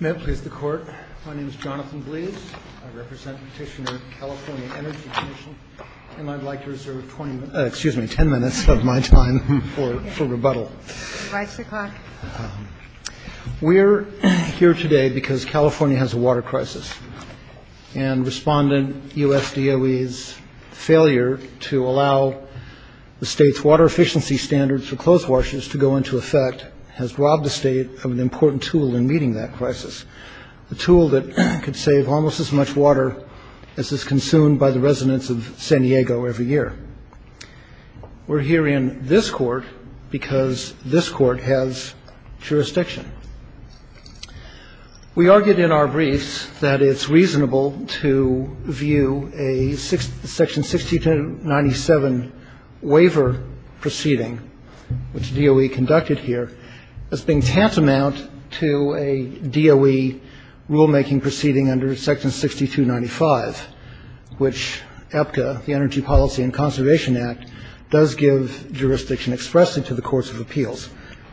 May it please the court. My name is Jonathan Bleas. I represent Petitioner California Energy Commission and I'd like to reserve 10 minutes of my time for rebuttal. We're here today because California has a water crisis and respondent U.S. DOE's failure to allow the state's water efficiency standards for clothes washers to go into effect has robbed the state of an important tool in meeting that crisis. The tool that could save almost as much water as is consumed by the residents of San Diego every year. We're here in this court because this court has jurisdiction. We argued in our briefs that it's reasonable to view a section 6297 waiver proceeding, which DOE conducted here, as being tantamount to a DOE rulemaking proceeding under section 6295, which APCA, the Energy Policy and Conservation Act, does give jurisdiction expressly to the courts of appeals.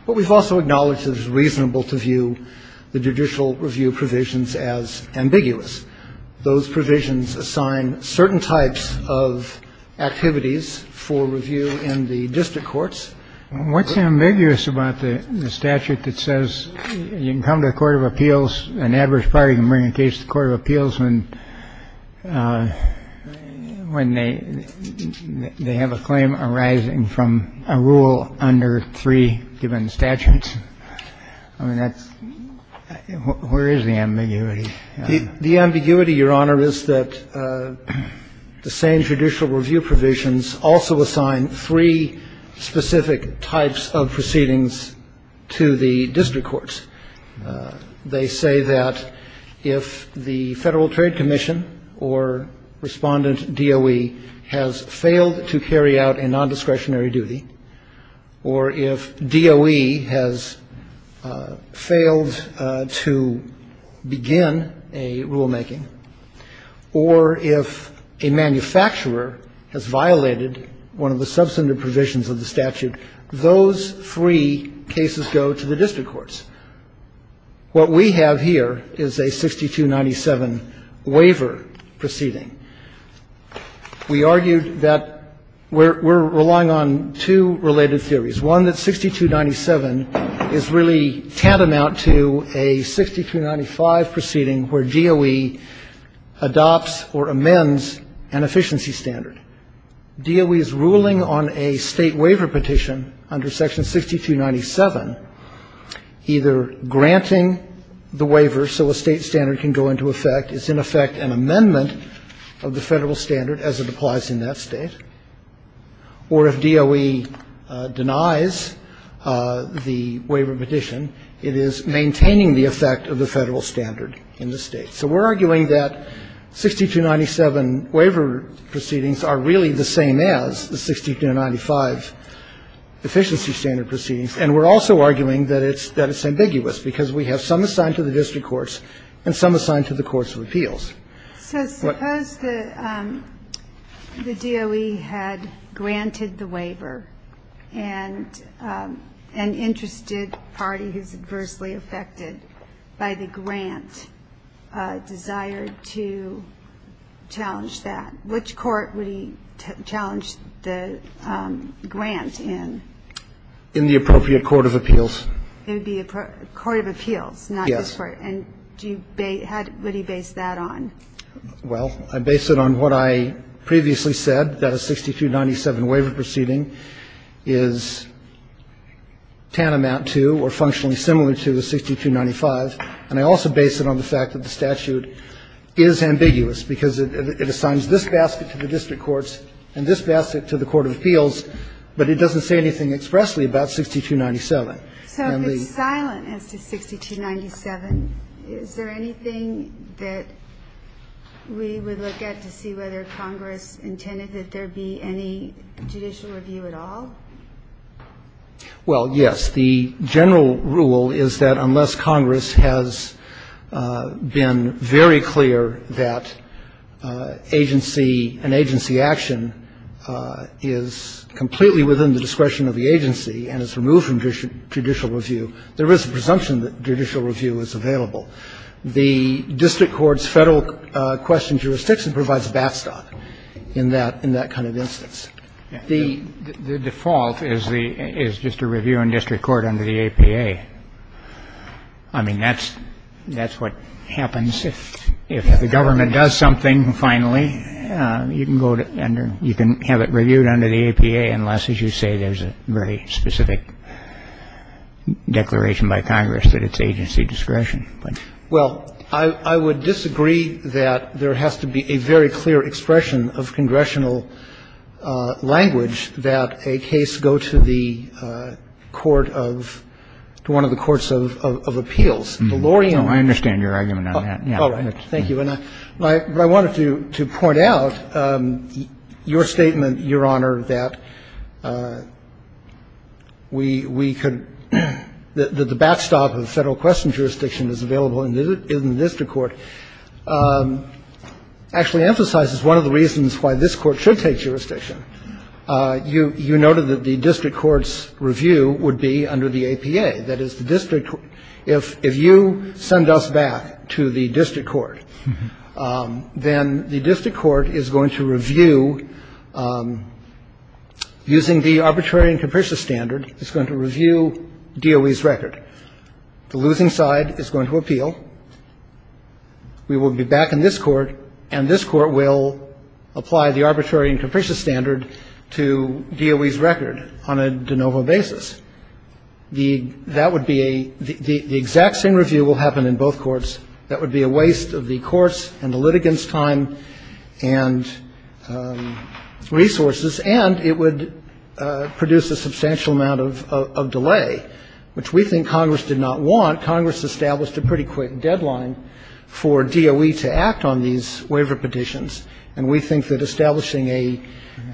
But we've also acknowledged it is reasonable to view the judicial review provisions as ambiguous. Those provisions assign certain types of activities for review in the district courts. What's ambiguous about the statute that says you can come to a court of appeals, an average party can bring a case to court of appeals when they have a claim arising from a rule under three given statutes. I mean, that's where is the ambiguity? The ambiguity, Your Honor, is that the same judicial review provisions also assign three specific types of proceedings to the district courts. They say that if the Federal Trade Commission or Respondent DOE has failed to carry out a non-discretionary duty, or if DOE has failed to begin a rulemaking, or if a manufacturer has violated one of the substantive provisions of the statute, those three cases go to the district courts. What we have here is a 6297 waiver proceeding. We argued that we're relying on two related theories. One, that 6297 is really tantamount to a 6295 proceeding where DOE adopts or amends an efficiency standard. DOE is ruling on a state waiver petition under section 6297, either granting the waiver so a state standard can go into effect. It's, in effect, an amendment of the Federal standard as it applies in that state. Or if DOE denies the waiver petition, it is maintaining the effect of the Federal standard in the state. So we're arguing that 6297 waiver proceedings are really the same as the 6295 efficiency standard proceedings, and we're also arguing that it's ambiguous because we have some assigned to the district courts and some assigned to the courts of appeals. What the DOE had granted the waiver, and an interested party who's adversely affected by the grant desired to challenge that, which court would he challenge the grant in? In the appropriate court of appeals. It would be a court of appeals, not this Court. Yes. And do you base that on? Well, I base it on what I previously said, that a 6297 waiver proceeding is tantamount to or functionally similar to a 6295, and I also base it on the fact that the statute is ambiguous because it assigns this basket to the district courts and this basket to the court of appeals, but it doesn't say anything expressly about 6297. So if it's silent as to 6297, is there anything that we would look at to see whether Congress intended that there be any judicial review at all? Well, yes. The general rule is that unless Congress has been very clear that agency, an agency action is completely within the discretion of the agency and is removed from judicial review, there is a presumption that judicial review is available. The district court's Federal question jurisdiction provides a backstop in that kind of instance. The default is just a review in district court under the APA. I mean, that's what happens. If the government does something, finally, you can go to under, you can have it reviewed under the APA unless, as you say, there's a very specific declaration by Congress that it's agency discretion. Well, I would disagree that there has to be a very clear expression of congressional language that a case go to the court of, to one of the courts of appeals. And as far as the lower, I understand your argument on that. Thank you. I wanted to point out, your statement, Your Honor, that we could, that the backstop of the Federal question jurisdiction is available in the district court, actually emphasizes one of the reasons why this court should take jurisdiction. You noted that the district court's review would be under the APA. That is, the district, if you send us back to the district court, then the district court is going to review, using the arbitrary and capricious standard, is going to review DOE's record. The losing side is going to appeal. We will be back in this court, and this court will apply the arbitrary and capricious standard to DOE's record on a de novo basis. The, that would be a, the exact same review will happen in both courts. That would be a waste of the court's and the litigant's time and resources. And it would produce a substantial amount of delay, which we think Congress did not want. Congress established a pretty quick deadline for DOE to act on these waiver petitions. And we think that establishing a,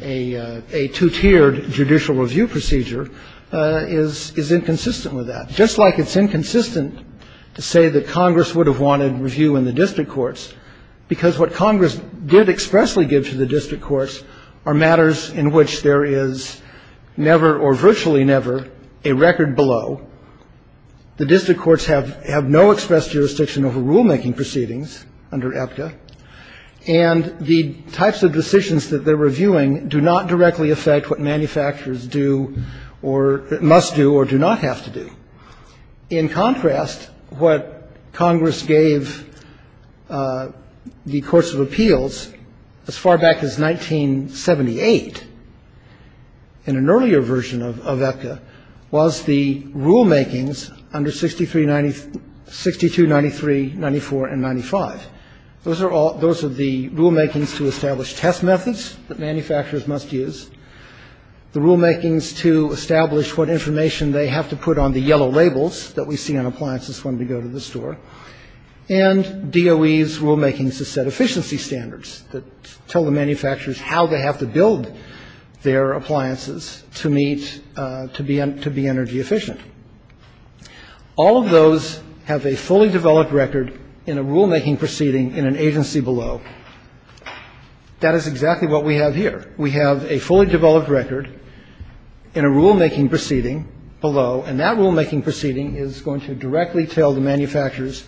a two-tiered judicial review procedure is, is inconsistent with that. Just like it's inconsistent to say that Congress would have wanted review in the district courts, because what Congress did expressly give to the district courts are matters in which there is never, or virtually never, a record below. The district courts have, have no express jurisdiction over rulemaking proceedings under APTA. And the types of decisions that they're reviewing do not directly affect what manufacturers do or, must do or do not have to do. In contrast, what Congress gave the courts of appeals as far back as 1978, in an earlier version of, of APTA, was the rulemakings under 6393, 6293, 9495. Those are all, those are the rulemakings to establish test methods that manufacturers must use, the rulemakings to establish what information they have to put on the yellow labels that we see on appliances when we go to the store, and DOE's rulemakings to set efficiency standards that tell the manufacturers how they have to build their appliances to meet, to be, to be energy efficient. All of those have a fully developed record in a rulemaking proceeding in an agency below. That is exactly what we have here. We have a fully developed record in a rulemaking proceeding below, and that rulemaking proceeding is going to directly tell the manufacturers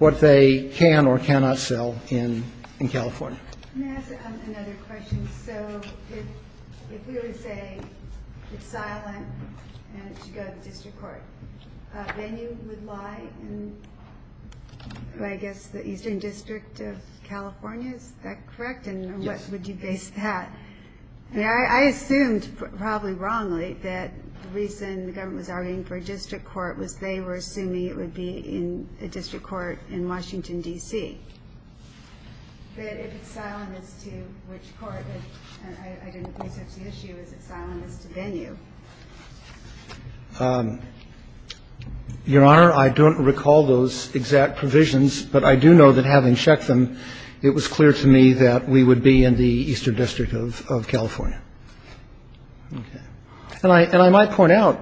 what they can or cannot sell in, in California. Can I ask another question? So if, if we were to say it's silent and it should go to the district court, then you would lie in, I guess, the Eastern District of California, is that correct? And what would you base that? Yeah, I assumed, probably wrongly, that the reason the government was arguing for a district court was they were assuming it would be in a district court in Washington, D.C. But if it's silent as to which court, I didn't research the issue, is it silent as to venue? Your Honor, I don't recall those exact provisions, but I do know that having checked them, it was clear to me that we would be in the Eastern District of, of California. Okay. And I, and I might point out,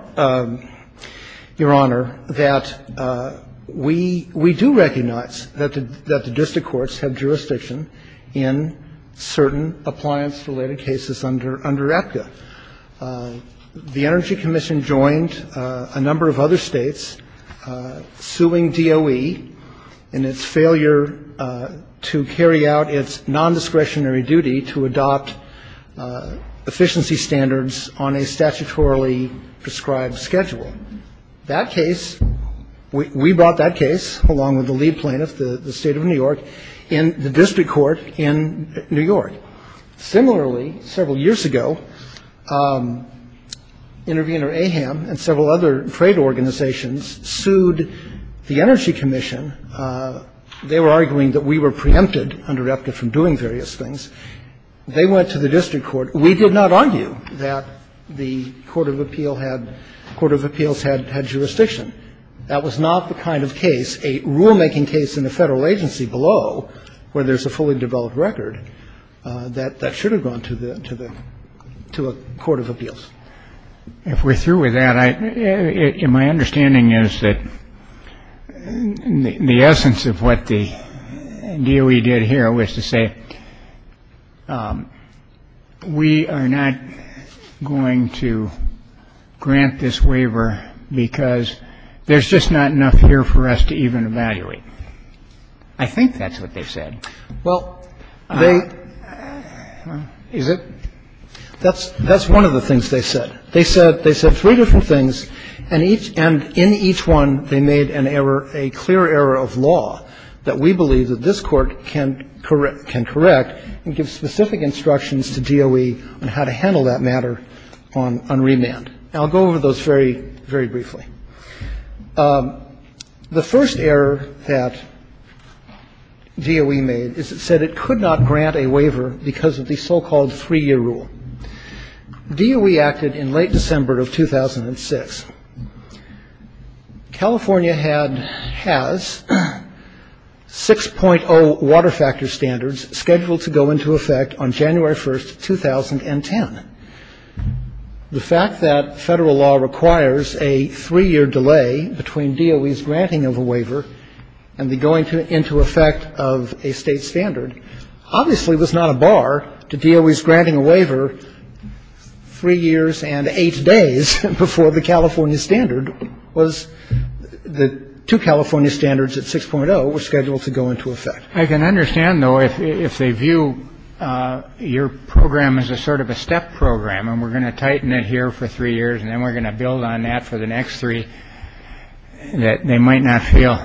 Your Honor, that we, we do recognize that the, that the district courts have jurisdiction in certain appliance-related cases under, under APCA. The Energy Commission joined a number of other States suing DOE in its failure to carry out its non-discretionary duty to adopt efficiency standards on a statutorily prescribed schedule. That case, we, we brought that case, along with the lead plaintiff, the, the State of New York, in the district court in New York. Similarly, several years ago, intervener AHAM and several other trade organizations sued the Energy Commission. They were arguing that we were preempted, interrupted from doing various things. They went to the district court. We did not argue that the court of appeal had, court of appeals had, had jurisdiction. That was not the kind of case, a rule-making case in the federal agency below, where there's a fully developed record, that, that should have gone to the, to the, to a court of appeals. If we're through with that, I, my understanding is that the essence of what the DOE did here was to say, we are not going to grant this waiver because there's just not enough here for us to even evaluate. I think that's what they said. Well, they, is it, that's, that's one of the things they said. They said, they said three different things, and each, and in each one, they made an error, a clear error of law that we believe that this Court can correct, can correct and give specific instructions to DOE on how to handle that matter on, on remand. And I'll go over those very, very briefly. The first error that DOE made is it said it could not grant a waiver because of the so-called three-year rule. DOE acted in late December of 2006. California had, has 6.0 water factor standards scheduled to go into effect on January 1st, 2010. The fact that Federal law requires a three-year delay between DOE's granting of a waiver and the going into effect of a State standard obviously was not a bar to DOE's granting a waiver three years and eight days before the California standard was, the two California standards at 6.0 were scheduled to go into effect. I can understand, though, if they view your program as a sort of a step program and we're going to tighten it here for three years and then we're going to build on that for the next three, that they might not feel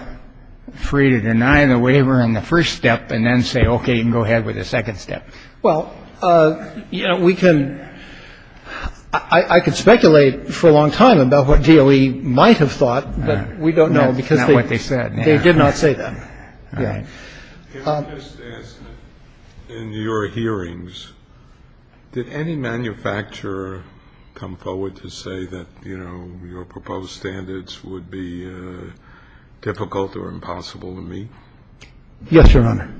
free to deny the waiver in the first step and then say, OK, you can go ahead with the second step. Well, you know, we can, I could speculate for a long time about what DOE might have thought, but we don't know because they did not say that. QUESTIONER If I could just ask, in your hearings, did any manufacturer come forward to say that, you know, your proposed standards would be difficult or impossible to meet? MR. WESTMORELAND Yes, Your Honor.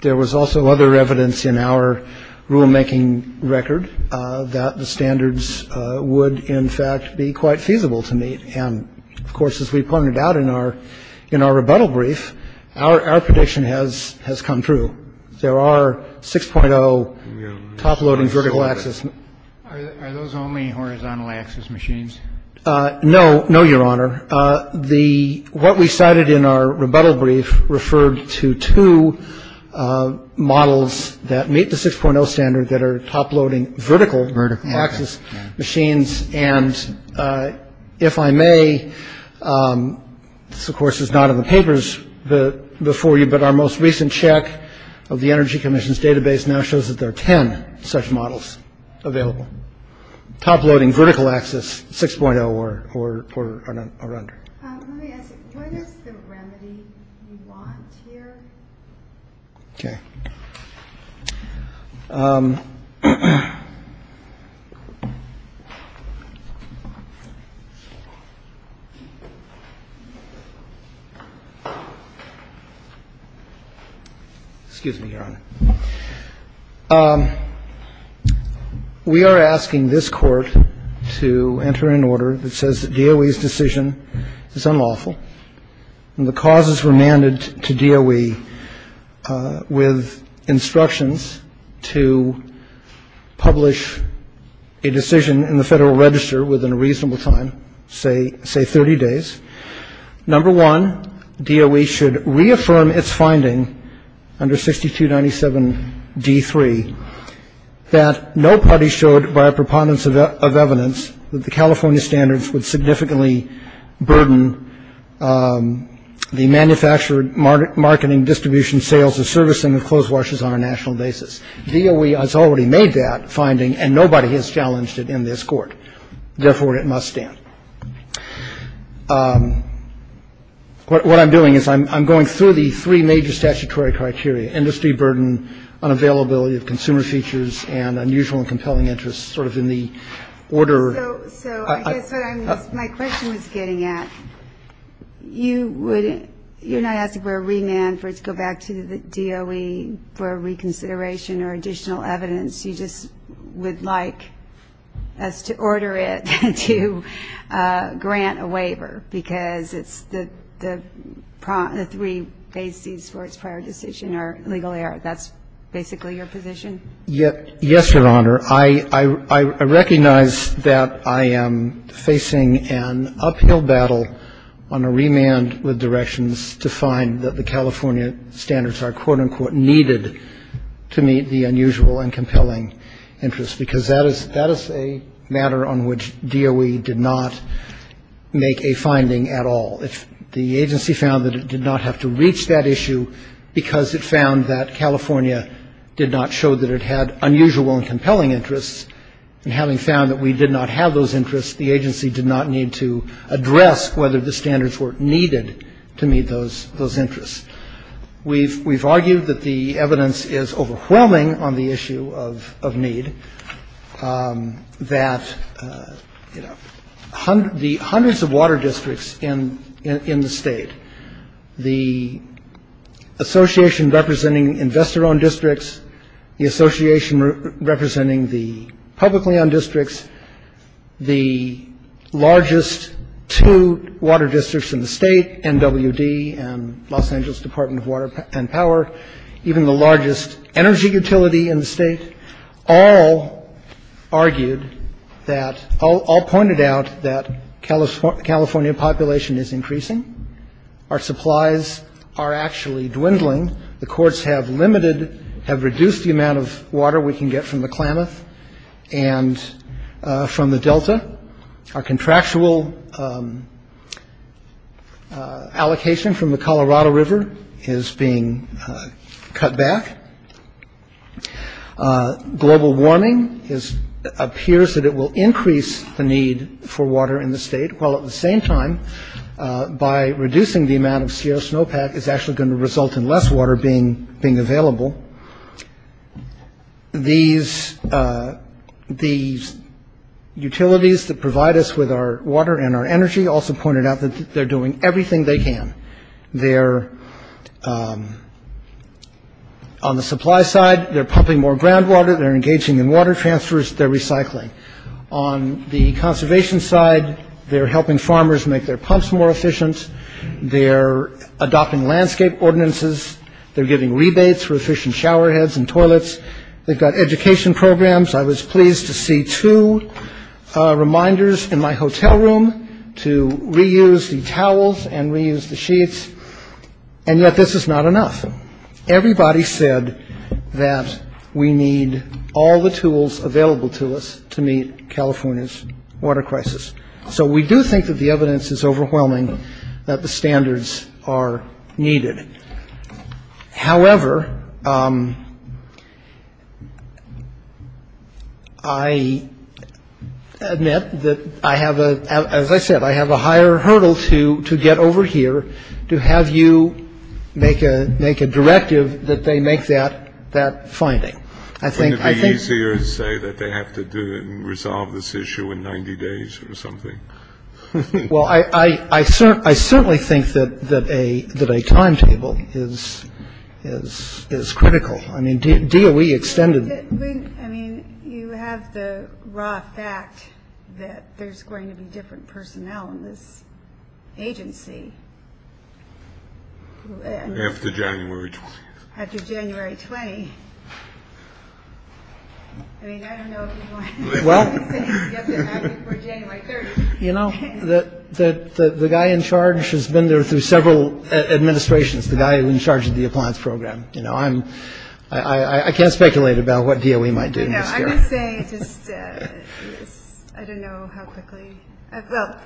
There was also other evidence in our rulemaking record that the standards would, in fact, be quite feasible to meet. And, of course, as we pointed out in our rebuttal brief, our prediction has come through. There are 6.0 top-loading vertical axis. QUESTIONER Are those only horizontal axis machines? MR. WESTMORELAND No. No, Your Honor. What we cited in our rebuttal brief referred to two models that meet the 6.0 standard that are top-loading vertical axis machines. And if I may, this, of course, is not in the papers before you, but our most recent check of the Energy Commission's database now shows that there are 10 such models available, top-loading vertical axis 6.0 or under. QUESTIONER Let me ask you, what is the remedy you want here? WESTMORELAND Okay. Excuse me, Your Honor. We are asking this Court to enter an order that says that DOE's decision is unlawful and the causes remanded to DOE with instructions to publish a decision in the Federal Register within a reasonable time, say 30 days. Number one, DOE should reaffirm its finding under 6297d3 that no party showed by a preponderance of evidence that the California standards would significantly burden the manufactured marketing distribution, sales, or servicing of clothes washers on a national basis. DOE has already made that finding, and nobody has challenged it in this Court. Therefore, it must stand. What I'm doing is I'm going through the three major statutory criteria, industry burden, unavailability of consumer features, and unusual and compelling interests, sort of in the order. QUESTIONER So I guess what my question was getting at, you're not asking for a remand for it to go back to the DOE for reconsideration or additional evidence. You just would like us to order it to grant a waiver because it's the three bases for its prior decision are legal error. That's basically your position? Yes, Your Honor. I recognize that I am facing an uphill battle on a remand with directions to find that the California standards are, quote, unquote, needed to meet the unusual and compelling interests, because that is a matter on which DOE did not make a finding at all. The agency found that it did not have to reach that issue because it found that California did not show that it had unusual and compelling interests. And having found that we did not have those interests, the agency did not need to address whether the standards were needed to meet those interests. We've argued that the evidence is overwhelming on the issue of need, that the hundreds of water districts in the state, the association representing investor-owned districts, the association representing the publicly-owned districts, the largest two water districts in the state, NWD and Los Angeles Department of Water and Power, even the largest energy utility in the state, all argued that, all pointed out that California population is increasing. Our supplies are actually dwindling. The courts have limited, have reduced the amount of water we can get from the Klamath and from the Delta. Our contractual allocation from the Colorado River is being cut back. Global warming appears that it will increase the need for water in the state, while at the same time, by reducing the amount of Sierra snowpack, it's actually going to result in less water being available. These utilities that provide us with our water and our energy also pointed out that they're doing everything they can. They're, on the supply side, they're pumping more groundwater, they're engaging in water transfers, they're recycling. On the conservation side, they're helping farmers make their pumps more efficient, they're adopting landscape ordinances, they're giving rebates for efficient shower heads and toilets, they've got education programs. I was pleased to see two reminders in my hotel room to reuse the towels and reuse the sheets, and yet this is not enough. Everybody said that we need all the tools available to us to meet California's water crisis. So we do think that the evidence is overwhelming that the standards are needed. However, I admit that I have, as I said, I have a higher hurdle to get over here to have you make a directive that they make that finding. I think it would be easier to say that they have to do it and resolve this issue in 90 days or something. Well, I certainly think that a timetable is critical. I mean, DOE extended... I mean, you have the raw fact that there's going to be different personnel in this agency. After January 20th. I mean, I don't know if you want to say that you have to have it before January 30th. You know, the guy in charge has been there through several administrations, the guy in charge of the appliance program. You know, I can't speculate about what DOE might do this year. I'm going to say just, I don't know how quickly. What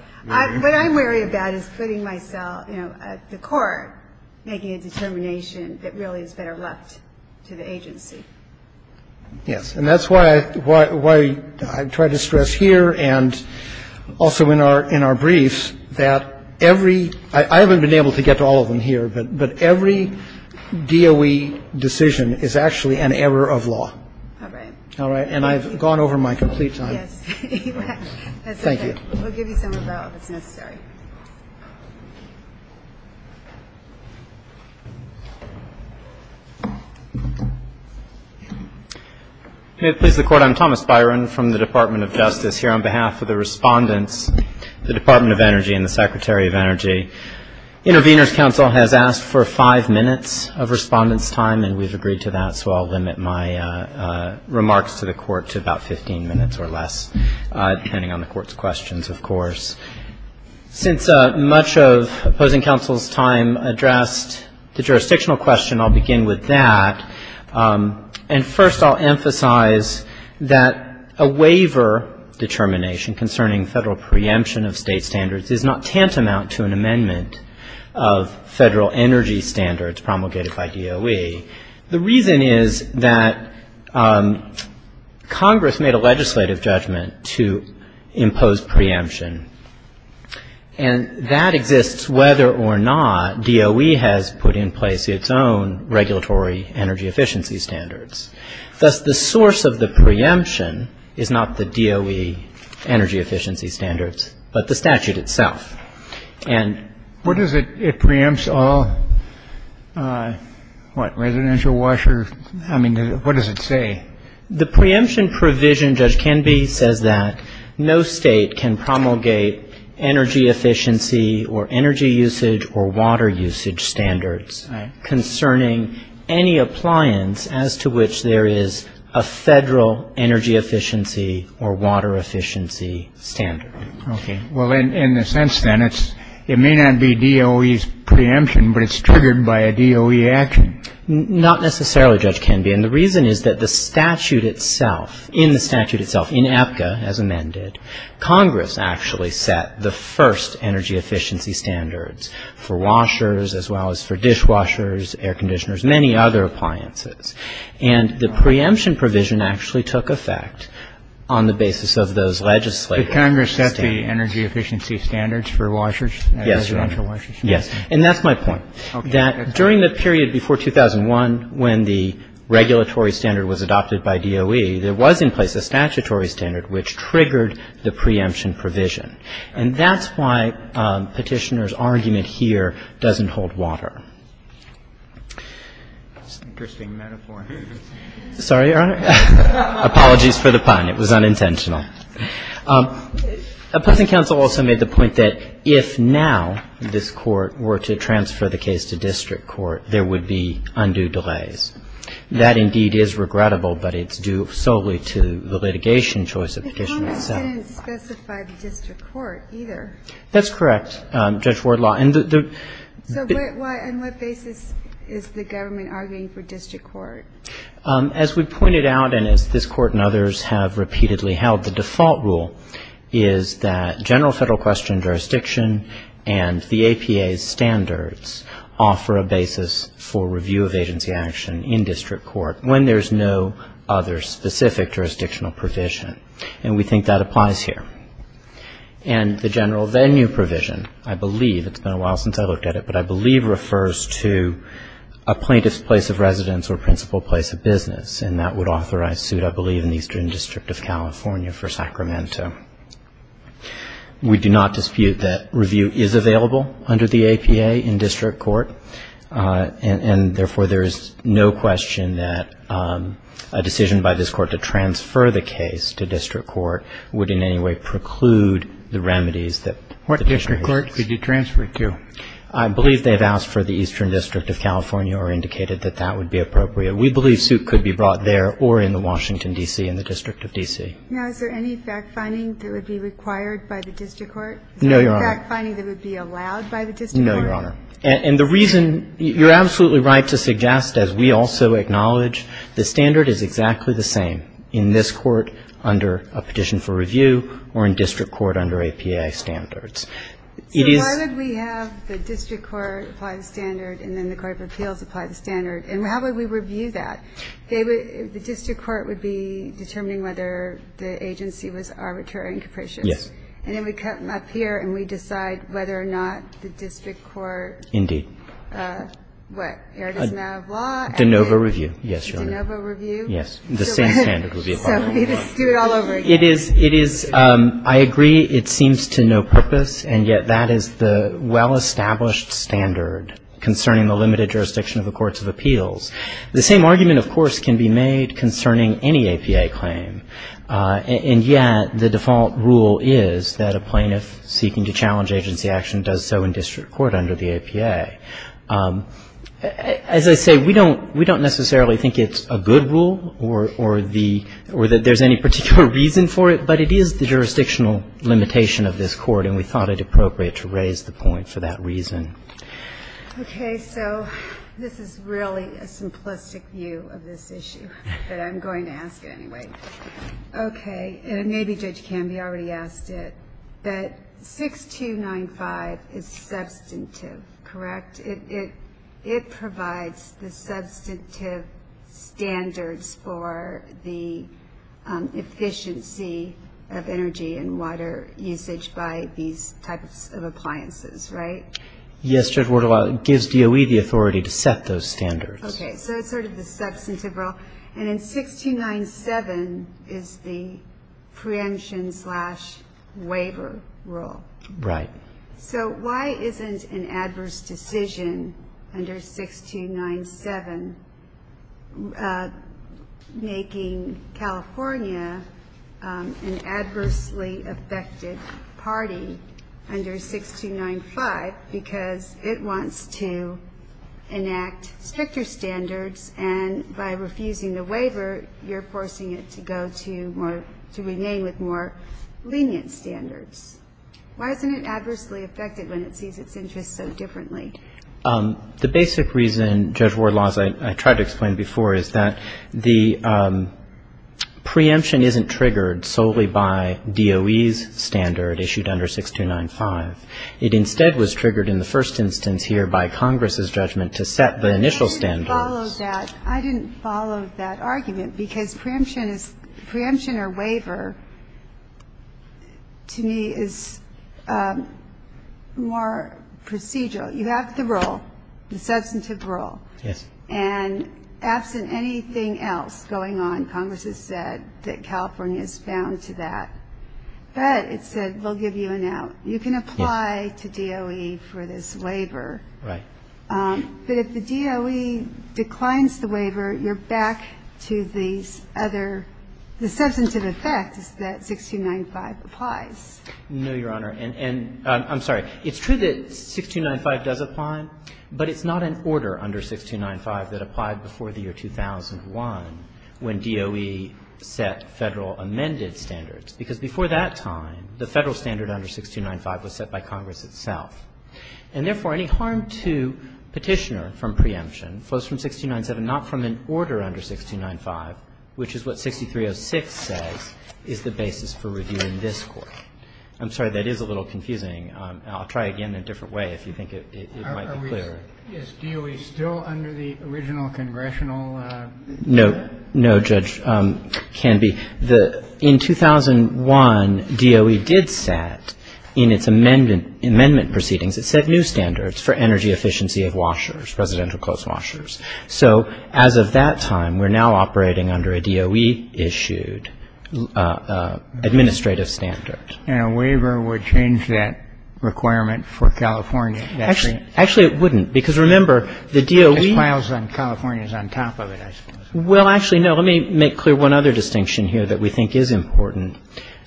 I'm wary about is putting myself at the core, making a determination that really is better left to the agency. Yes, and that's why I try to stress here and also in our briefs that every... I haven't been able to get to all of them here, but every DOE decision is actually an error of law. All right. And I've gone over my complete time. Thank you. We'll give you some rebuttal if it's necessary. May it please the Court. I'm Thomas Byron from the Department of Justice here on behalf of the respondents, the Department of Energy and the Secretary of Energy. Intervenors Council has asked for five minutes of respondents' time, and we've agreed to that. So I'll limit my remarks to the Court to about 15 minutes or less, depending on the Court's questions, of course. Since much of opposing counsel's time addressed the jurisdictional question, I'll begin with that. And first I'll emphasize that a waiver determination concerning federal preemption of state standards is not tantamount to an amendment of federal energy standards promulgated by DOE. The reason is that Congress made a legislative judgment to impose preemption, and that exists whether or not DOE has put in place its own regulatory energy efficiency standards. Thus, the source of the preemption is not the DOE energy efficiency standards, but the statute itself. And what is it? It preempts all, what, residential washers? I mean, what does it say? The preemption provision, Judge Canby, says that no state can promulgate energy efficiency or energy usage or water usage standards concerning any appliance as to which there is a federal energy efficiency or water efficiency standard. Okay. Well, in a sense, then, it may not be DOE's preemption, but it's triggered by a DOE action. Not necessarily, Judge Canby. And the reason is that the statute itself, in the statute itself, in APCA, as amended, Congress actually set the first energy efficiency standards for washers as well as for dishwashers, air conditioners, many other appliances. And the preemption provision actually took effect on the basis of those legislative standards. So Congress set the energy efficiency standards for washers, residential washers? Yes. And that's my point, that during the period before 2001 when the regulatory standard was adopted by DOE, there was in place a statutory standard which triggered the preemption provision. And that's why Petitioner's argument here doesn't hold water. That's an interesting metaphor. Sorry, Your Honor. Apologies for the pun. It was unintentional. A pleasant counsel also made the point that if now this Court were to transfer the case to district court, there would be undue delays. That, indeed, is regrettable, but it's due solely to the litigation choice of Petitioner itself. But Congress didn't specify the district court, either. That's correct, Judge Wardlaw. So why, on what basis is the government arguing for district court? As we pointed out, and as this Court and others have repeatedly held, the default rule is that general federal question jurisdiction and the APA's standards offer a basis for review of agency action in district court when there's no other specific jurisdictional provision. And we think that applies here. And the general venue provision, I believe, it's been a while since I looked at it, but And that would authorize suit, I believe, in the Eastern District of California for Sacramento. We do not dispute that review is available under the APA in district court. And therefore, there is no question that a decision by this Court to transfer the case to district court would in any way preclude the remedies that the district court has. What district court did you transfer it to? I believe they've asked for the Eastern District of California or indicated that that would be appropriate. We believe suit could be brought there or in the Washington, D.C., in the District of D.C. Now, is there any fact-finding that would be required by the district court? No, Your Honor. Is there any fact-finding that would be allowed by the district court? No, Your Honor. And the reason you're absolutely right to suggest, as we also acknowledge, the standard is exactly the same in this court under a petition for review or in district court under APA standards. So why would we have the district court apply the standard and then the Court of Appeals apply the standard? And how would we review that? They would – the district court would be determining whether the agency was arbitrary and capricious. Yes. And then we come up here and we decide whether or not the district court – Indeed. What? Errata's now of law? De novo review. Yes, Your Honor. De novo review? Yes. The same standard would be applied. So we just do it all over again. It is – it is – I agree it seems to no purpose, and yet that is the well-established standard concerning the limited jurisdiction of the courts of appeals. The same argument, of course, can be made concerning any APA claim. And yet the default rule is that a plaintiff seeking to challenge agency action does so in district court under the APA. As I say, we don't – we don't necessarily think it's a good rule or the – or that there's any particular reason for it, but it is the jurisdictional limitation of this court, and we thought it appropriate to raise the point for that reason. Okay. So this is really a simplistic view of this issue, but I'm going to ask it anyway. Okay. And maybe Judge Canby already asked it, but 6295 is substantive, correct? It provides the substantive standards for the efficiency of energy and water usage by these types of appliances, right? Yes, Judge Wortolau. It gives DOE the authority to set those standards. Okay. So it's sort of the substantive rule. And then 6297 is the preemption slash waiver rule. Right. So why isn't an adverse decision under 6297 making California an adversely affected party under 6295? Because it wants to enact stricter standards, and by refusing the waiver, you're forcing it to go to more – to remain with more lenient standards. Why isn't it adversely affected when it sees its interests so differently? The basic reason, Judge Wortolau, as I tried to explain before, is that the preemption isn't triggered solely by DOE's standard issued under 6295. It instead was triggered in the first instance here by Congress's judgment to set the initial standards. I didn't follow that. I didn't follow that argument, because preemption or waiver, to me, is more procedural. You have the rule, the substantive rule. Yes. And absent anything else going on, Congress has said that California is bound to that. But it said we'll give you an out. You can apply to DOE for this waiver. Right. But if the DOE declines the waiver, you're back to these other – the substantive rules. No, Your Honor. And I'm sorry. It's true that 6295 does apply, but it's not an order under 6295 that applied before the year 2001 when DOE set Federal amended standards, because before that time, the Federal standard under 6295 was set by Congress itself. And therefore, any harm to Petitioner from preemption flows from 6297, not from an order under 6295, which is what 6306 says, is the basis for review in this Court. I'm sorry. That is a little confusing. I'll try again a different way if you think it might be clearer. Are we – is DOE still under the original congressional – No. No, Judge Canby. In 2001, DOE did set, in its amendment proceedings, it set new standards for energy efficiency of washers, residential clothes washers. So as of that time, we're now operating under a DOE-issued administrative standard. And a waiver would change that requirement for California? Actually, it wouldn't, because remember, the DOE – Because files on California is on top of it, I suppose. Well, actually, no. Let me make clear one other distinction here that we think is important.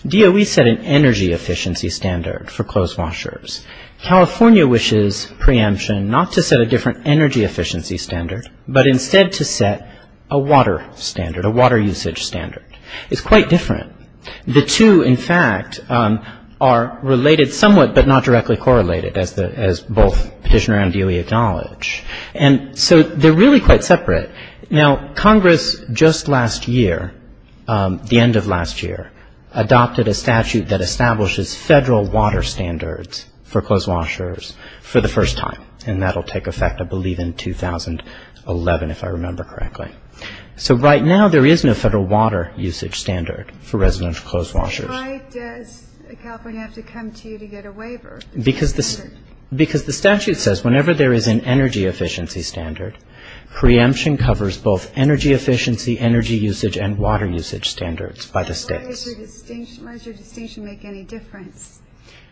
DOE set an energy efficiency standard for clothes washers. California wishes preemption not to set a different energy efficiency standard, but instead to set a water standard, a water usage standard. It's quite different. The two, in fact, are related somewhat, but not directly correlated, as both Petitioner and DOE acknowledge. And so they're really quite separate. Now, Congress just last year, the end of last year, adopted a statute that for the first time, and that will take effect, I believe, in 2011, if I remember correctly. So right now, there is no federal water usage standard for residential clothes washers. Why does California have to come to you to get a waiver? Because the statute says whenever there is an energy efficiency standard, preemption covers both energy efficiency, energy usage, and water usage standards by the states. GOTTLIEB Why does your distinction make any difference,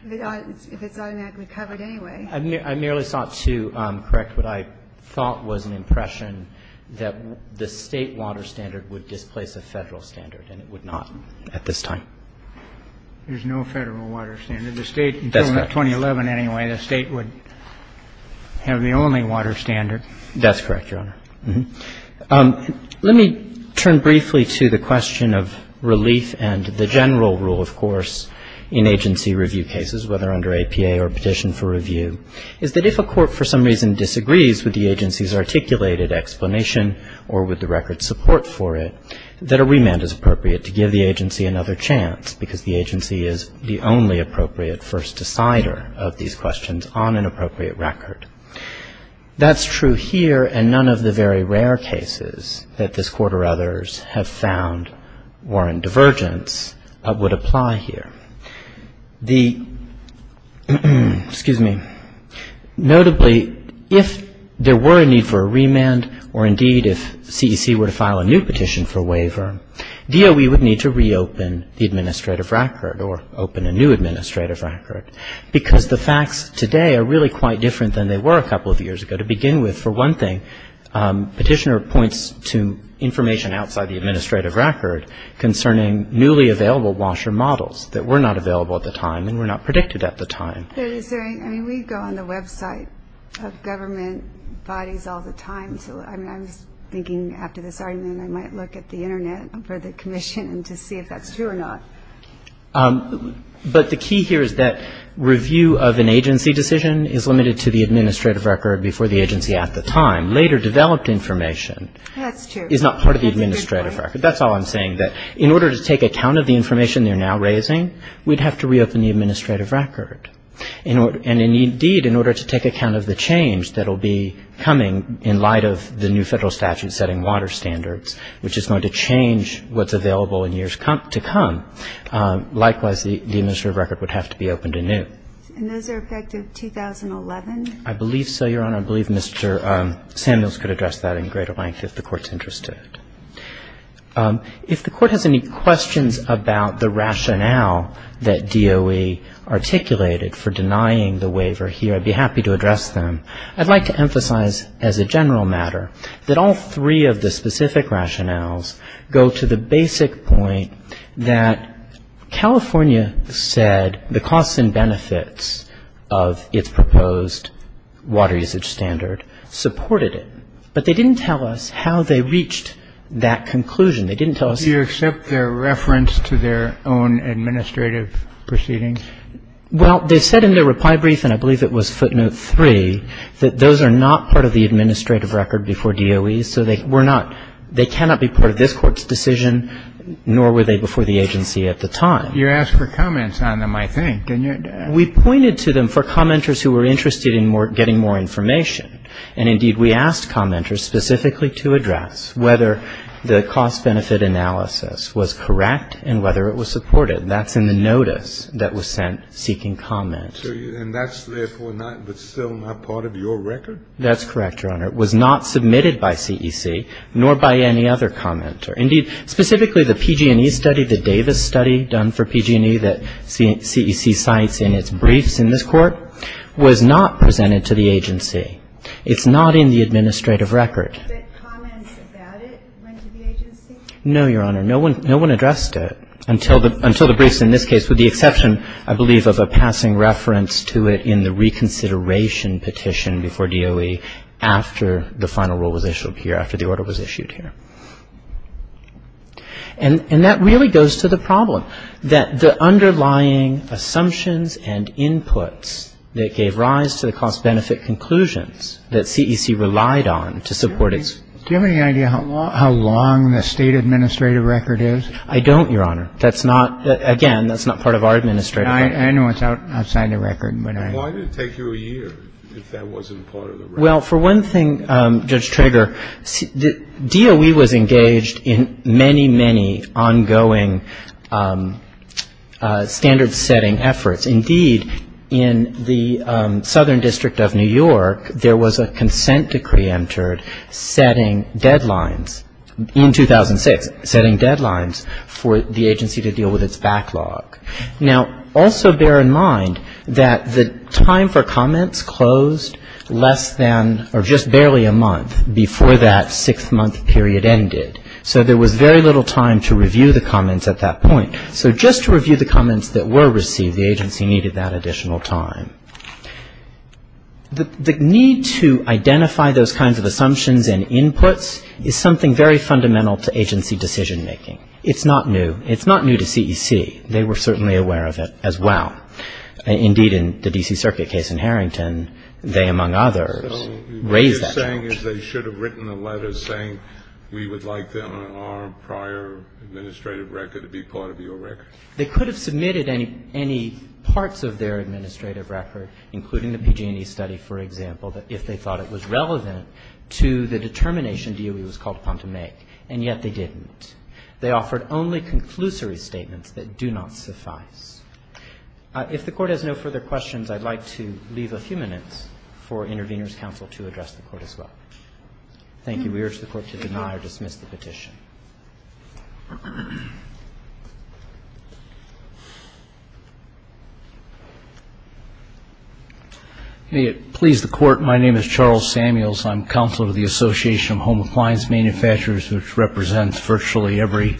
if it's automatically covered anyway? MR. GOLDSTEIN I merely sought to correct what I thought was an impression, that the State water standard would displace a Federal standard, and it would not at this time. There's no Federal water standard. MR. GOLDSTEIN MR. RUBENSTEIN The State, in 2011 anyway, the State would have the only water standard. MR. GOLDSTEIN That's correct, Your Honor. Let me turn briefly to the question of relief and the general rule, of course, in agency review cases, whether under APA or petition for review, is that if a court for some reason disagrees with the agency's articulated explanation or with the record's support for it, that a remand is appropriate to give the agency another chance, because the agency is the only appropriate first decider of these questions on an appropriate record. That's true here, and none of the very rare cases that this Court or others have found were in divergence, but would apply here. Notably, if there were a need for a remand, or indeed if CEC were to file a new petition for a waiver, DOE would need to reopen the administrative record or open a new administrative record, because the facts today are really quite different than they were a couple of years ago. To begin with, for one thing, Petitioner points to information outside the administrative record concerning newly available washer models that were not available at the time and were not predicted at the time. MS. GOLDSTEIN Is there any? I mean, we go on the website of government bodies all the time, so I mean, I was thinking after this argument I might look at the Internet for the commission to see if that's true or not. MR. GOLDSTEIN But the key here is that review of an agency decision is limited to the administrative record before the agency at the time. Later developed information is not part of the administrative record. That's a good point. MR. GOLDSTEIN That's all I'm saying, that in order to take account of the information they're now raising, we'd have to reopen the administrative record. And indeed, in order to take account of the change that will be coming in light of the new Federal statute setting water standards, which is going to change what's going to happen, likewise the administrative record would have to be opened anew. GOLDSTEIN And those are effective 2011? MR. GOLDSTEIN I believe so, Your Honor. I believe Mr. Samuels could address that in greater length if the Court's interested. If the Court has any questions about the rationale that DOE articulated for denying the waiver here, I'd be happy to address them. I'd like to emphasize as a general matter that all three of the specific rationales go to the basic point that California said the costs and benefits of its proposed water usage standard supported it. But they didn't tell us how they reached that conclusion. They didn't tell us... GENERAL VERRILLI Do you accept their reference to their own administrative proceedings? MR. GOLDSTEIN Well, they said in their reply brief, and I believe it was footnote three, that those are not part of the administrative record before DOE. So they cannot be part of this Court's decision, nor were they before the agency at the time. GENERAL VERRILLI You asked for comments on them, I think. MR. GOLDSTEIN We pointed to them for commenters who were interested in getting more information. And indeed, we asked commenters specifically to address whether the cost-benefit analysis was correct and whether it was supported. That's in the notice that was sent seeking comment. GENERAL VERRILLI And that's therefore still not part of your record? MR. It was not presented to the agency by the agency, nor by any other commenter. Indeed, specifically the PG&E study, the Davis study done for PG&E that CEC cites in its briefs in this Court, was not presented to the agency. It's not in the administrative record. GENERAL VERRILLI But comments about it went to the agency? MR. GOLDSTEIN No one addressed it until the briefs in this case, with the exception, I believe, of a passing reference to it in the reconsideration petition before DOE after the final rule was issued here, after the order was issued here. And that really goes to the problem, that the underlying assumptions and inputs that gave rise to the cost-benefit conclusions that CEC relied on to support its GENERAL VERRILLI Do you have any idea how long the State administrative record is? MR. GOLDSTEIN I don't, Your Honor. That's not, again, that's not part of our administrative record. GENERAL VERRILLI I know it's outside the record, but I don't know. GENERAL VERRILLI Why did it take you a year if that wasn't part of the record? MR. GOLDSTEIN Well, for one thing, Judge Trager, DOE was engaged in many, many ongoing standard-setting efforts. Indeed, in the Southern District of New York, there was a consent decree entered setting deadlines in 2006, setting deadlines for the agency to deal with its backlog. Now, also bear in mind that the time for comments closed less than or just barely a month before that six-month period ended. So there was very little time to review the comments at that point. So just to review the comments that were received, the agency needed that additional time. The need to identify those kinds of assumptions and inputs is something very fundamental to agency decision-making. It's not new. It's not new to CEC. They were certainly aware of it as well. Indeed, in the D.C. Circuit case in Harrington, they, among others, raised that. KENNEDY So what you're saying is they should have written a letter saying we would like them on our prior administrative record to be part of your record? MR. CHAUNCEY They should have written a letter saying we would like them on our prior administrative record, including the PG&E study, for example, that if they thought it was relevant to the determination DOE was called upon to make, and yet they didn't. They offered only conclusory statements that do not suffice. If the Court has no further questions, I'd like to leave a few minutes for Intervenors Counsel to address the Court as well. Thank you. We urge the Court to deny or dismiss the petition. CHARLES SAMUELS May it please the Court, my name is Charles Samuels. I'm Counselor to the Association of Home Appliance Manufacturers, which represents virtually every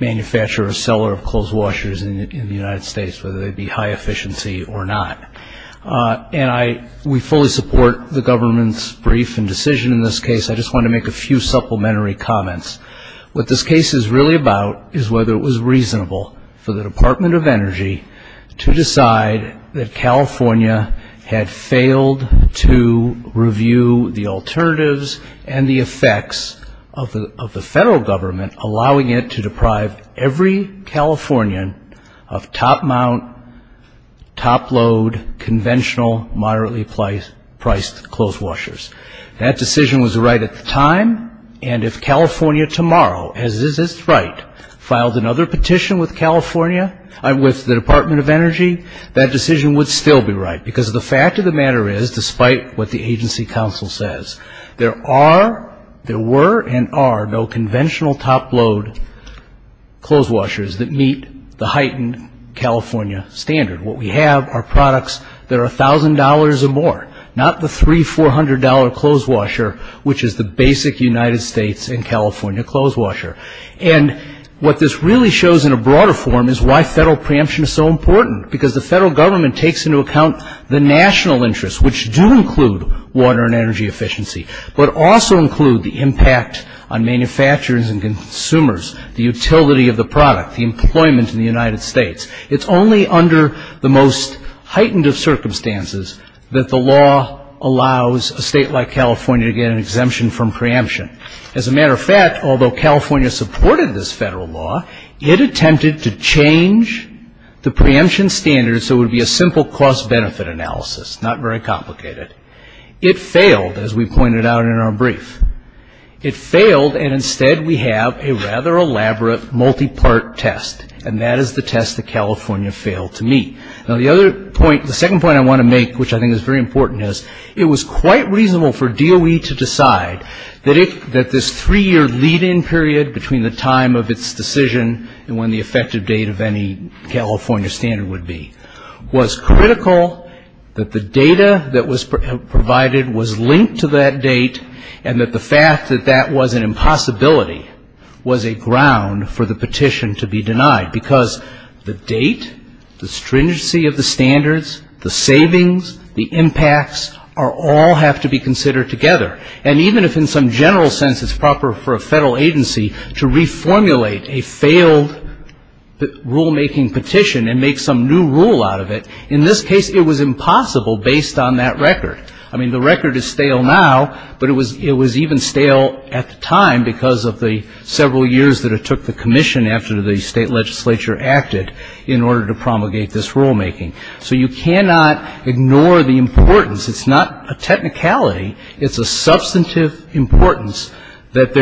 manufacturer or seller of clothes washers in the United States, whether they be high efficiency or not. And we fully support the government's brief and decision in this case. I just want to make a few supplementary comments. What this case is really about is whether it was reasonable for the Department of Energy to decide that California had failed to review the alternatives and the effects of the federal government allowing it to deprive every Californian of top mount, top load, conventional, moderately priced clothes washers. That decision was right at the time. And if California tomorrow, as is its right, filed another petition with California, with the Department of Energy, that decision would still be right. Because the fact of the matter is, despite what the agency counsel says, there are, there were and are no conventional top load clothes washers that meet the heightened California standard. What we have are products that are $1,000 or more, not the $300, $400 clothes washer, which is the basic United States and California clothes washer. And what this really shows in a broader form is why federal preemption is so important, because the federal government takes into account the national interests, which do include water and energy efficiency, but also include the impact on manufacturers and consumers, the utility of the product, the employment in the United States. It's only under the most heightened of circumstances that the law allows a state like California to get an exemption from preemption. As a matter of fact, although California supported this federal law, it attempted to change the preemption standards so it would be a simple cost-benefit analysis, not very complicated. It failed, as we pointed out in our brief. It failed, and instead we have a rather elaborate multi-part test, and that is the test that California failed to meet. Now, the other point, the second point I want to make, which I think is very important, is it was quite reasonable for DOE to decide that this three-year lead-in period between the time of its decision and when the effective date of any California standard would be was critical, that the data that was provided was linked to that date, and that the fact that that was an impossibility was a ground for the petition to be denied, because the date, the stringency of the standards, the savings, the impacts, all have to be considered together, and even if in some general sense it's proper for a federal agency to reformulate a failed rulemaking petition and make some new rule out of it, in this case it was impossible based on that record. I mean, the record is stale now, but it was even stale at the time because of the several years that it took the commission after the state legislature acted in order to promulgate this rulemaking. So you cannot ignore the importance. It's not a technicality. It's a substantive importance that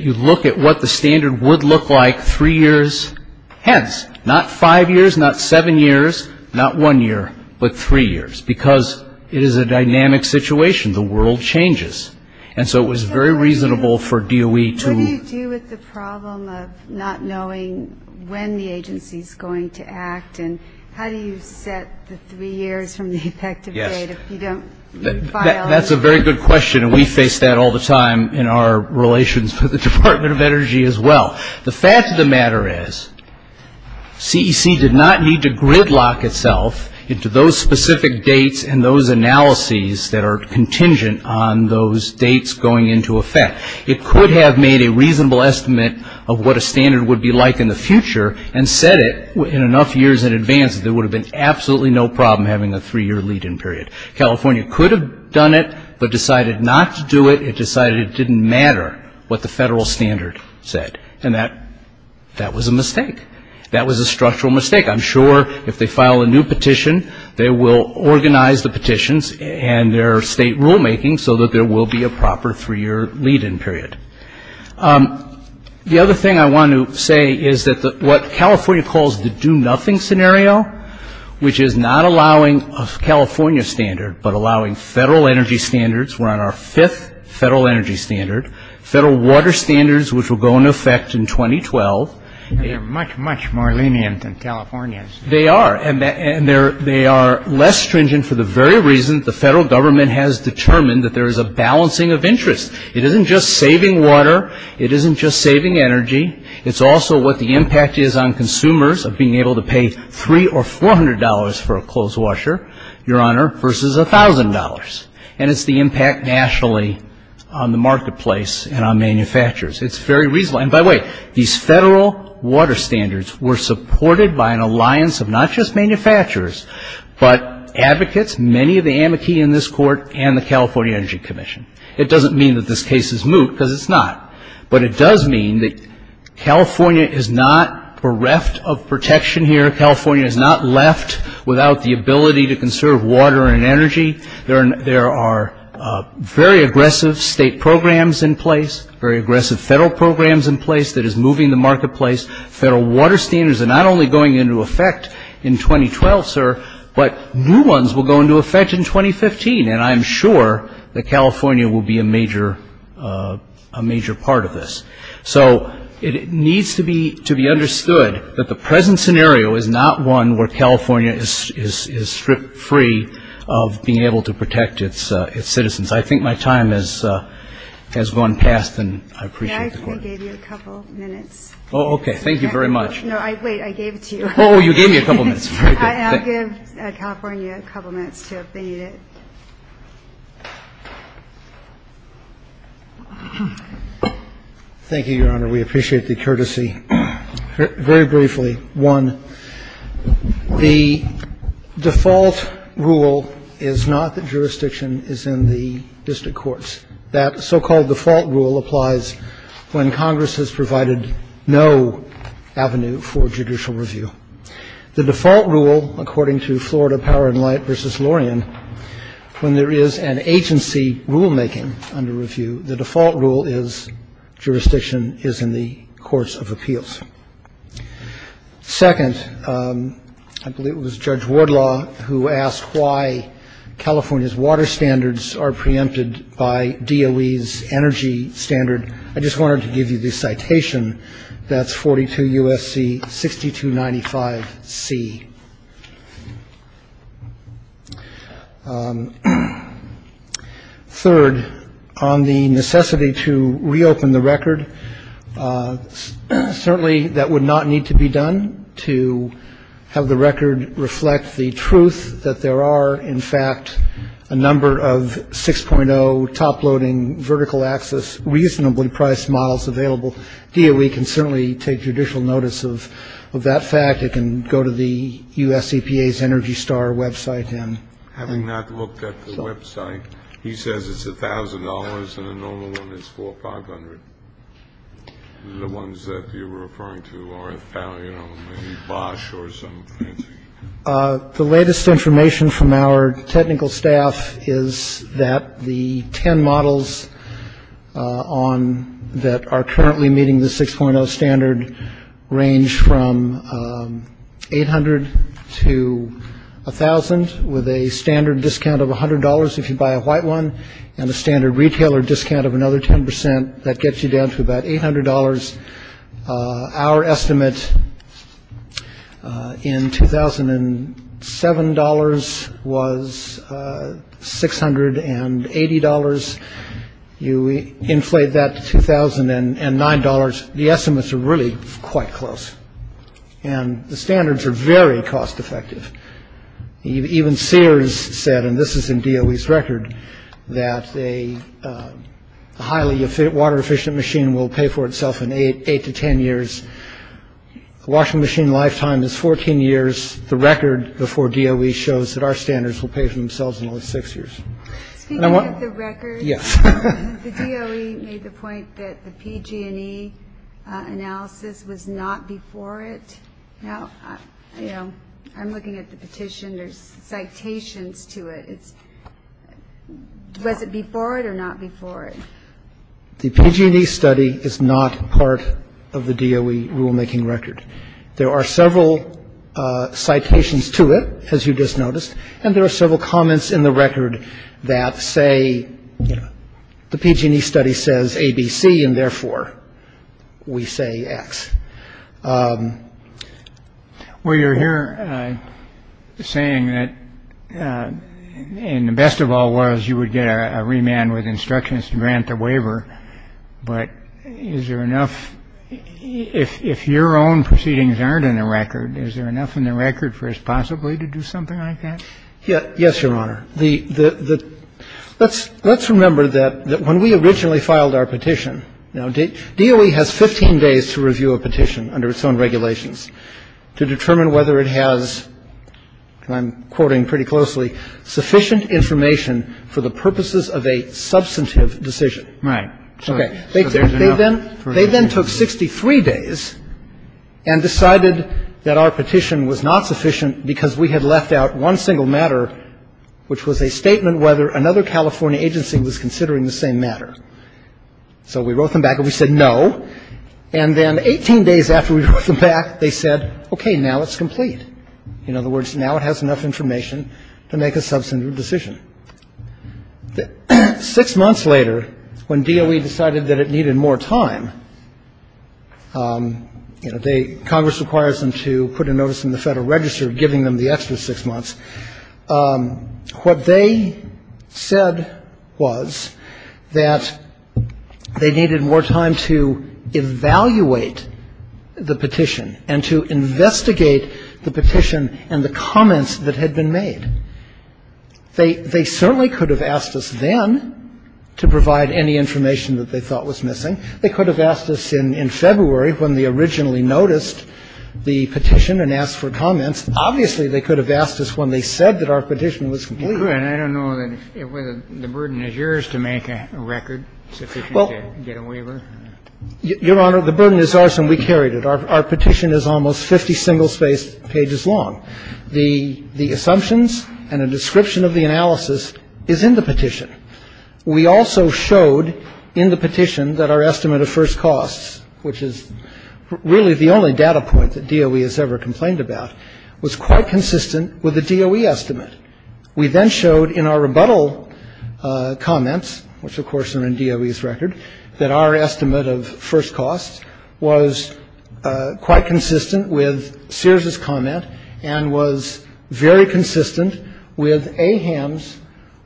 you look at what the standard would look like three years hence, not five years, not seven years, not one year, but three years, because it is a dynamic situation. The world changes. And so it was very reasonable for DOE to... What do you do with the problem of not knowing when the agency is going to act, and how do you set the three years from the effective date if you don't file... That's a very good question, and we face that all the time in our relations with the Department of Energy as well. The fact of the matter is, CEC did not need to gridlock itself into those specific dates and those analyses that are contingent on those dates going into effect. It could have made a reasonable estimate of what a standard would be like in the future and said it in enough years in advance that there would have been absolutely no problem having a three-year lead-in period. California could have done it but decided not to do it. It decided it didn't matter what the federal standard said, and that was a mistake. That was a structural mistake. I'm sure if they file a new petition, they will organize the petitions and their state rulemaking so that there will be a proper three-year lead-in period. The other thing I want to say is that what California calls the do-nothing scenario, which is not allowing a California standard but allowing federal energy standards, we're on our fifth federal energy standard, federal water standards, which will go into effect in 2012. And they're much, much more lenient than California's. They are, and they are less stringent for the very reason the federal government has determined that there is a balancing of interests. It isn't just saving water. It isn't just saving energy. It's also what the impact is on consumers of being able to pay $300 or $400 for a clothes washer, Your Honor, versus $1,000. And it's the impact nationally on the marketplace and on manufacturers. It's very reasonable. And by the way, these federal water standards were supported by an alliance of not just manufacturers but advocates, many of the amici in this court, and the California Energy Commission. It doesn't mean that this case is moot, because it's not. But it does mean that California is not bereft of protection here. California is not left without the ability to conserve water and energy. There are very aggressive state programs in place, very aggressive federal programs in place that is moving the marketplace. Federal water standards are not only going into effect in 2012, sir, but new ones will go into effect in 2015. And I'm sure that California will be a major part of this. So it needs to be understood that the present scenario is not one where California is stripped free of being able to protect its citizens. I think my time has gone past, and I appreciate the court. Yeah, I gave you a couple minutes. Oh, okay. Thank you very much. No, wait, I gave it to you. Oh, you gave me a couple minutes. I'll give California a couple minutes to abate it. Thank you, Your Honor. We appreciate the courtesy. Very briefly, one, the default rule is not that jurisdiction is in the district courts. That so-called default rule applies when Congress has provided no avenue for judicial review. The default rule, according to Florida Power & Light v. Lorien, when there is an agency rulemaking under review, the default rule is jurisdiction is in the courts of appeals. Second, I believe it was Judge Wardlaw who asked why California's water standards are preempted by DOE's energy standard. I just wanted to give you the citation. That's 42 U.S.C. 6295C. Third, on the necessity to reopen the record, certainly that would not need to be done to have the record reflect the truth that there are, in fact, a number of 6.0 top-loading vertical-axis reasonably-priced models available. DOE can certainly take judicial notice of that fact. It can go to the U.S. EPA's ENERGY STAR website. Having not looked at the website, he says it's $1,000 and a normal one is $4,500. The ones that you're referring to are, you know, maybe Bosch or something. The latest information from our technical staff is that the 10 models on that are currently meeting the 6.0 standard range from 800 to 1,000, with a standard discount of $100 if you buy a white one and a standard retailer discount of another 10 percent. That gets you down to about $800. Our estimate in 2007 dollars was $680. You inflate that to 2009 dollars. The estimates are really quite close, and the standards are very cost-effective. Even Sears said, and this is in DOE's record, that a highly water-efficient machine will pay for itself in eight to ten years. A washing machine lifetime is 14 years. The record before DOE shows that our standards will pay for themselves in only six years. Speaking of the record, the DOE made the point that the PG&E analysis was not before it. I'm looking at the petition. There's citations to it. Was it before it or not before it? The PG&E study is not part of the DOE rulemaking record. There are several citations to it, as you just noticed, and there are several comments in the record that say the PG&E study says A, B, C, and therefore we say X. Well, you're here saying that the best of all was you would get a remand with instructions to grant a waiver. But is there enough if your own proceedings aren't in the record? Is there enough in the record for us possibly to do something like that? Yes. Yes, Your Honor. The let's let's remember that when we originally filed our petition, DOE has 15 days to review a petition under its own regulations to determine whether it has, and I'm quoting pretty closely, sufficient information for the purposes of a substantive decision. Right. Okay. They then took 63 days and decided that our petition was not sufficient because we had left out one single matter, which was a statement whether another California agency was considering the same matter. So we wrote them back and we said no. And then 18 days after we wrote them back, they said, okay, now it's complete. In other words, now it has enough information to make a substantive decision. Six months later, when DOE decided that it needed more time, you know, Congress requires them to put a notice in the Federal Register giving them the extra six months. What they said was that they needed more time to evaluate the petition and to investigate the petition and the comments that had been made. They certainly could have asked us then to provide any information that they thought was missing. They could have asked us in February when they originally noticed the petition and asked for comments. Obviously, they could have asked us when they said that our petition was complete. And I don't know whether the burden is yours to make a record sufficient to get a waiver. Your Honor, the burden is ours and we carried it. Our petition is almost 50 single-spaced pages long. The assumptions and a description of the analysis is in the petition. We also showed in the petition that our estimate of first costs, which is really the only data point that DOE has ever complained about, was quite consistent with the DOE estimate. We then showed in our rebuttal comments, which, of course, are in DOE's record, that our estimate of first costs was quite consistent with Sears's comment and was very consistent with AHAM's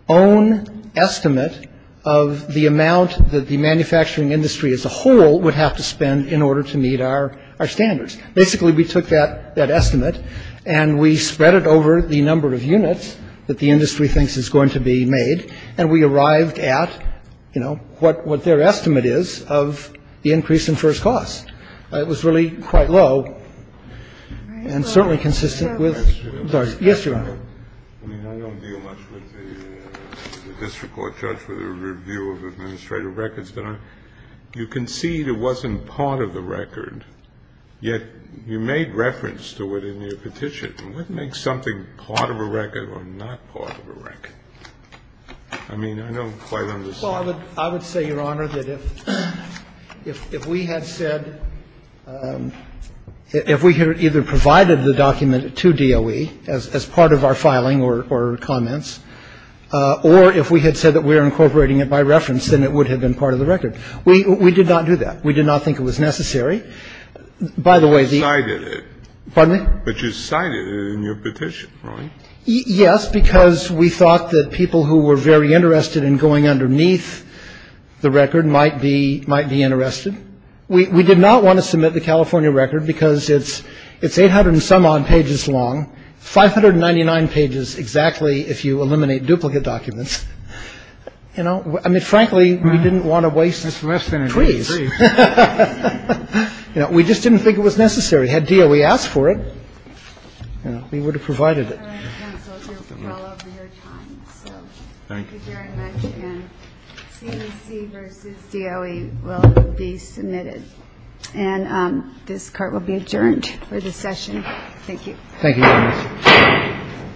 own estimate of the amount that the manufacturing industry as a whole would have to spend in order to meet our standards. Basically, we took that estimate and we spread it over the number of units that the industry thinks is going to be made, and we arrived at, you know, what their estimate is of the increase in first costs. It was really quite low and certainly consistent with the others. Yes, Your Honor. I mean, I don't deal much with the district court judge with a review of administrative records, but you concede it wasn't part of the record, yet you made reference to it in your petition. What makes something part of a record or not part of a record? I mean, I don't quite understand. Well, I would say, Your Honor, that if we had said, if we had either provided the document to DOE as part of our filing or comments, or if we had said that we were incorporating it by reference, then it would have been part of the record. We did not do that. We did not think it was necessary. By the way, the — You cited it. Pardon me? But you cited it in your petition, right? Yes, because we thought that people who were very interested in going underneath the record might be interested. We did not want to submit the California record because it's 800-and-some-odd pages long, 599 pages exactly if you eliminate duplicate documents. You know, I mean, frankly, we didn't want to waste trees. It's less than a tree. You know, we just didn't think it was necessary. Had DOE asked for it, you know, we would have provided it. Thank you very much. And CAC versus DOE will be submitted. And this court will be adjourned for this session. Thank you. Thank you very much.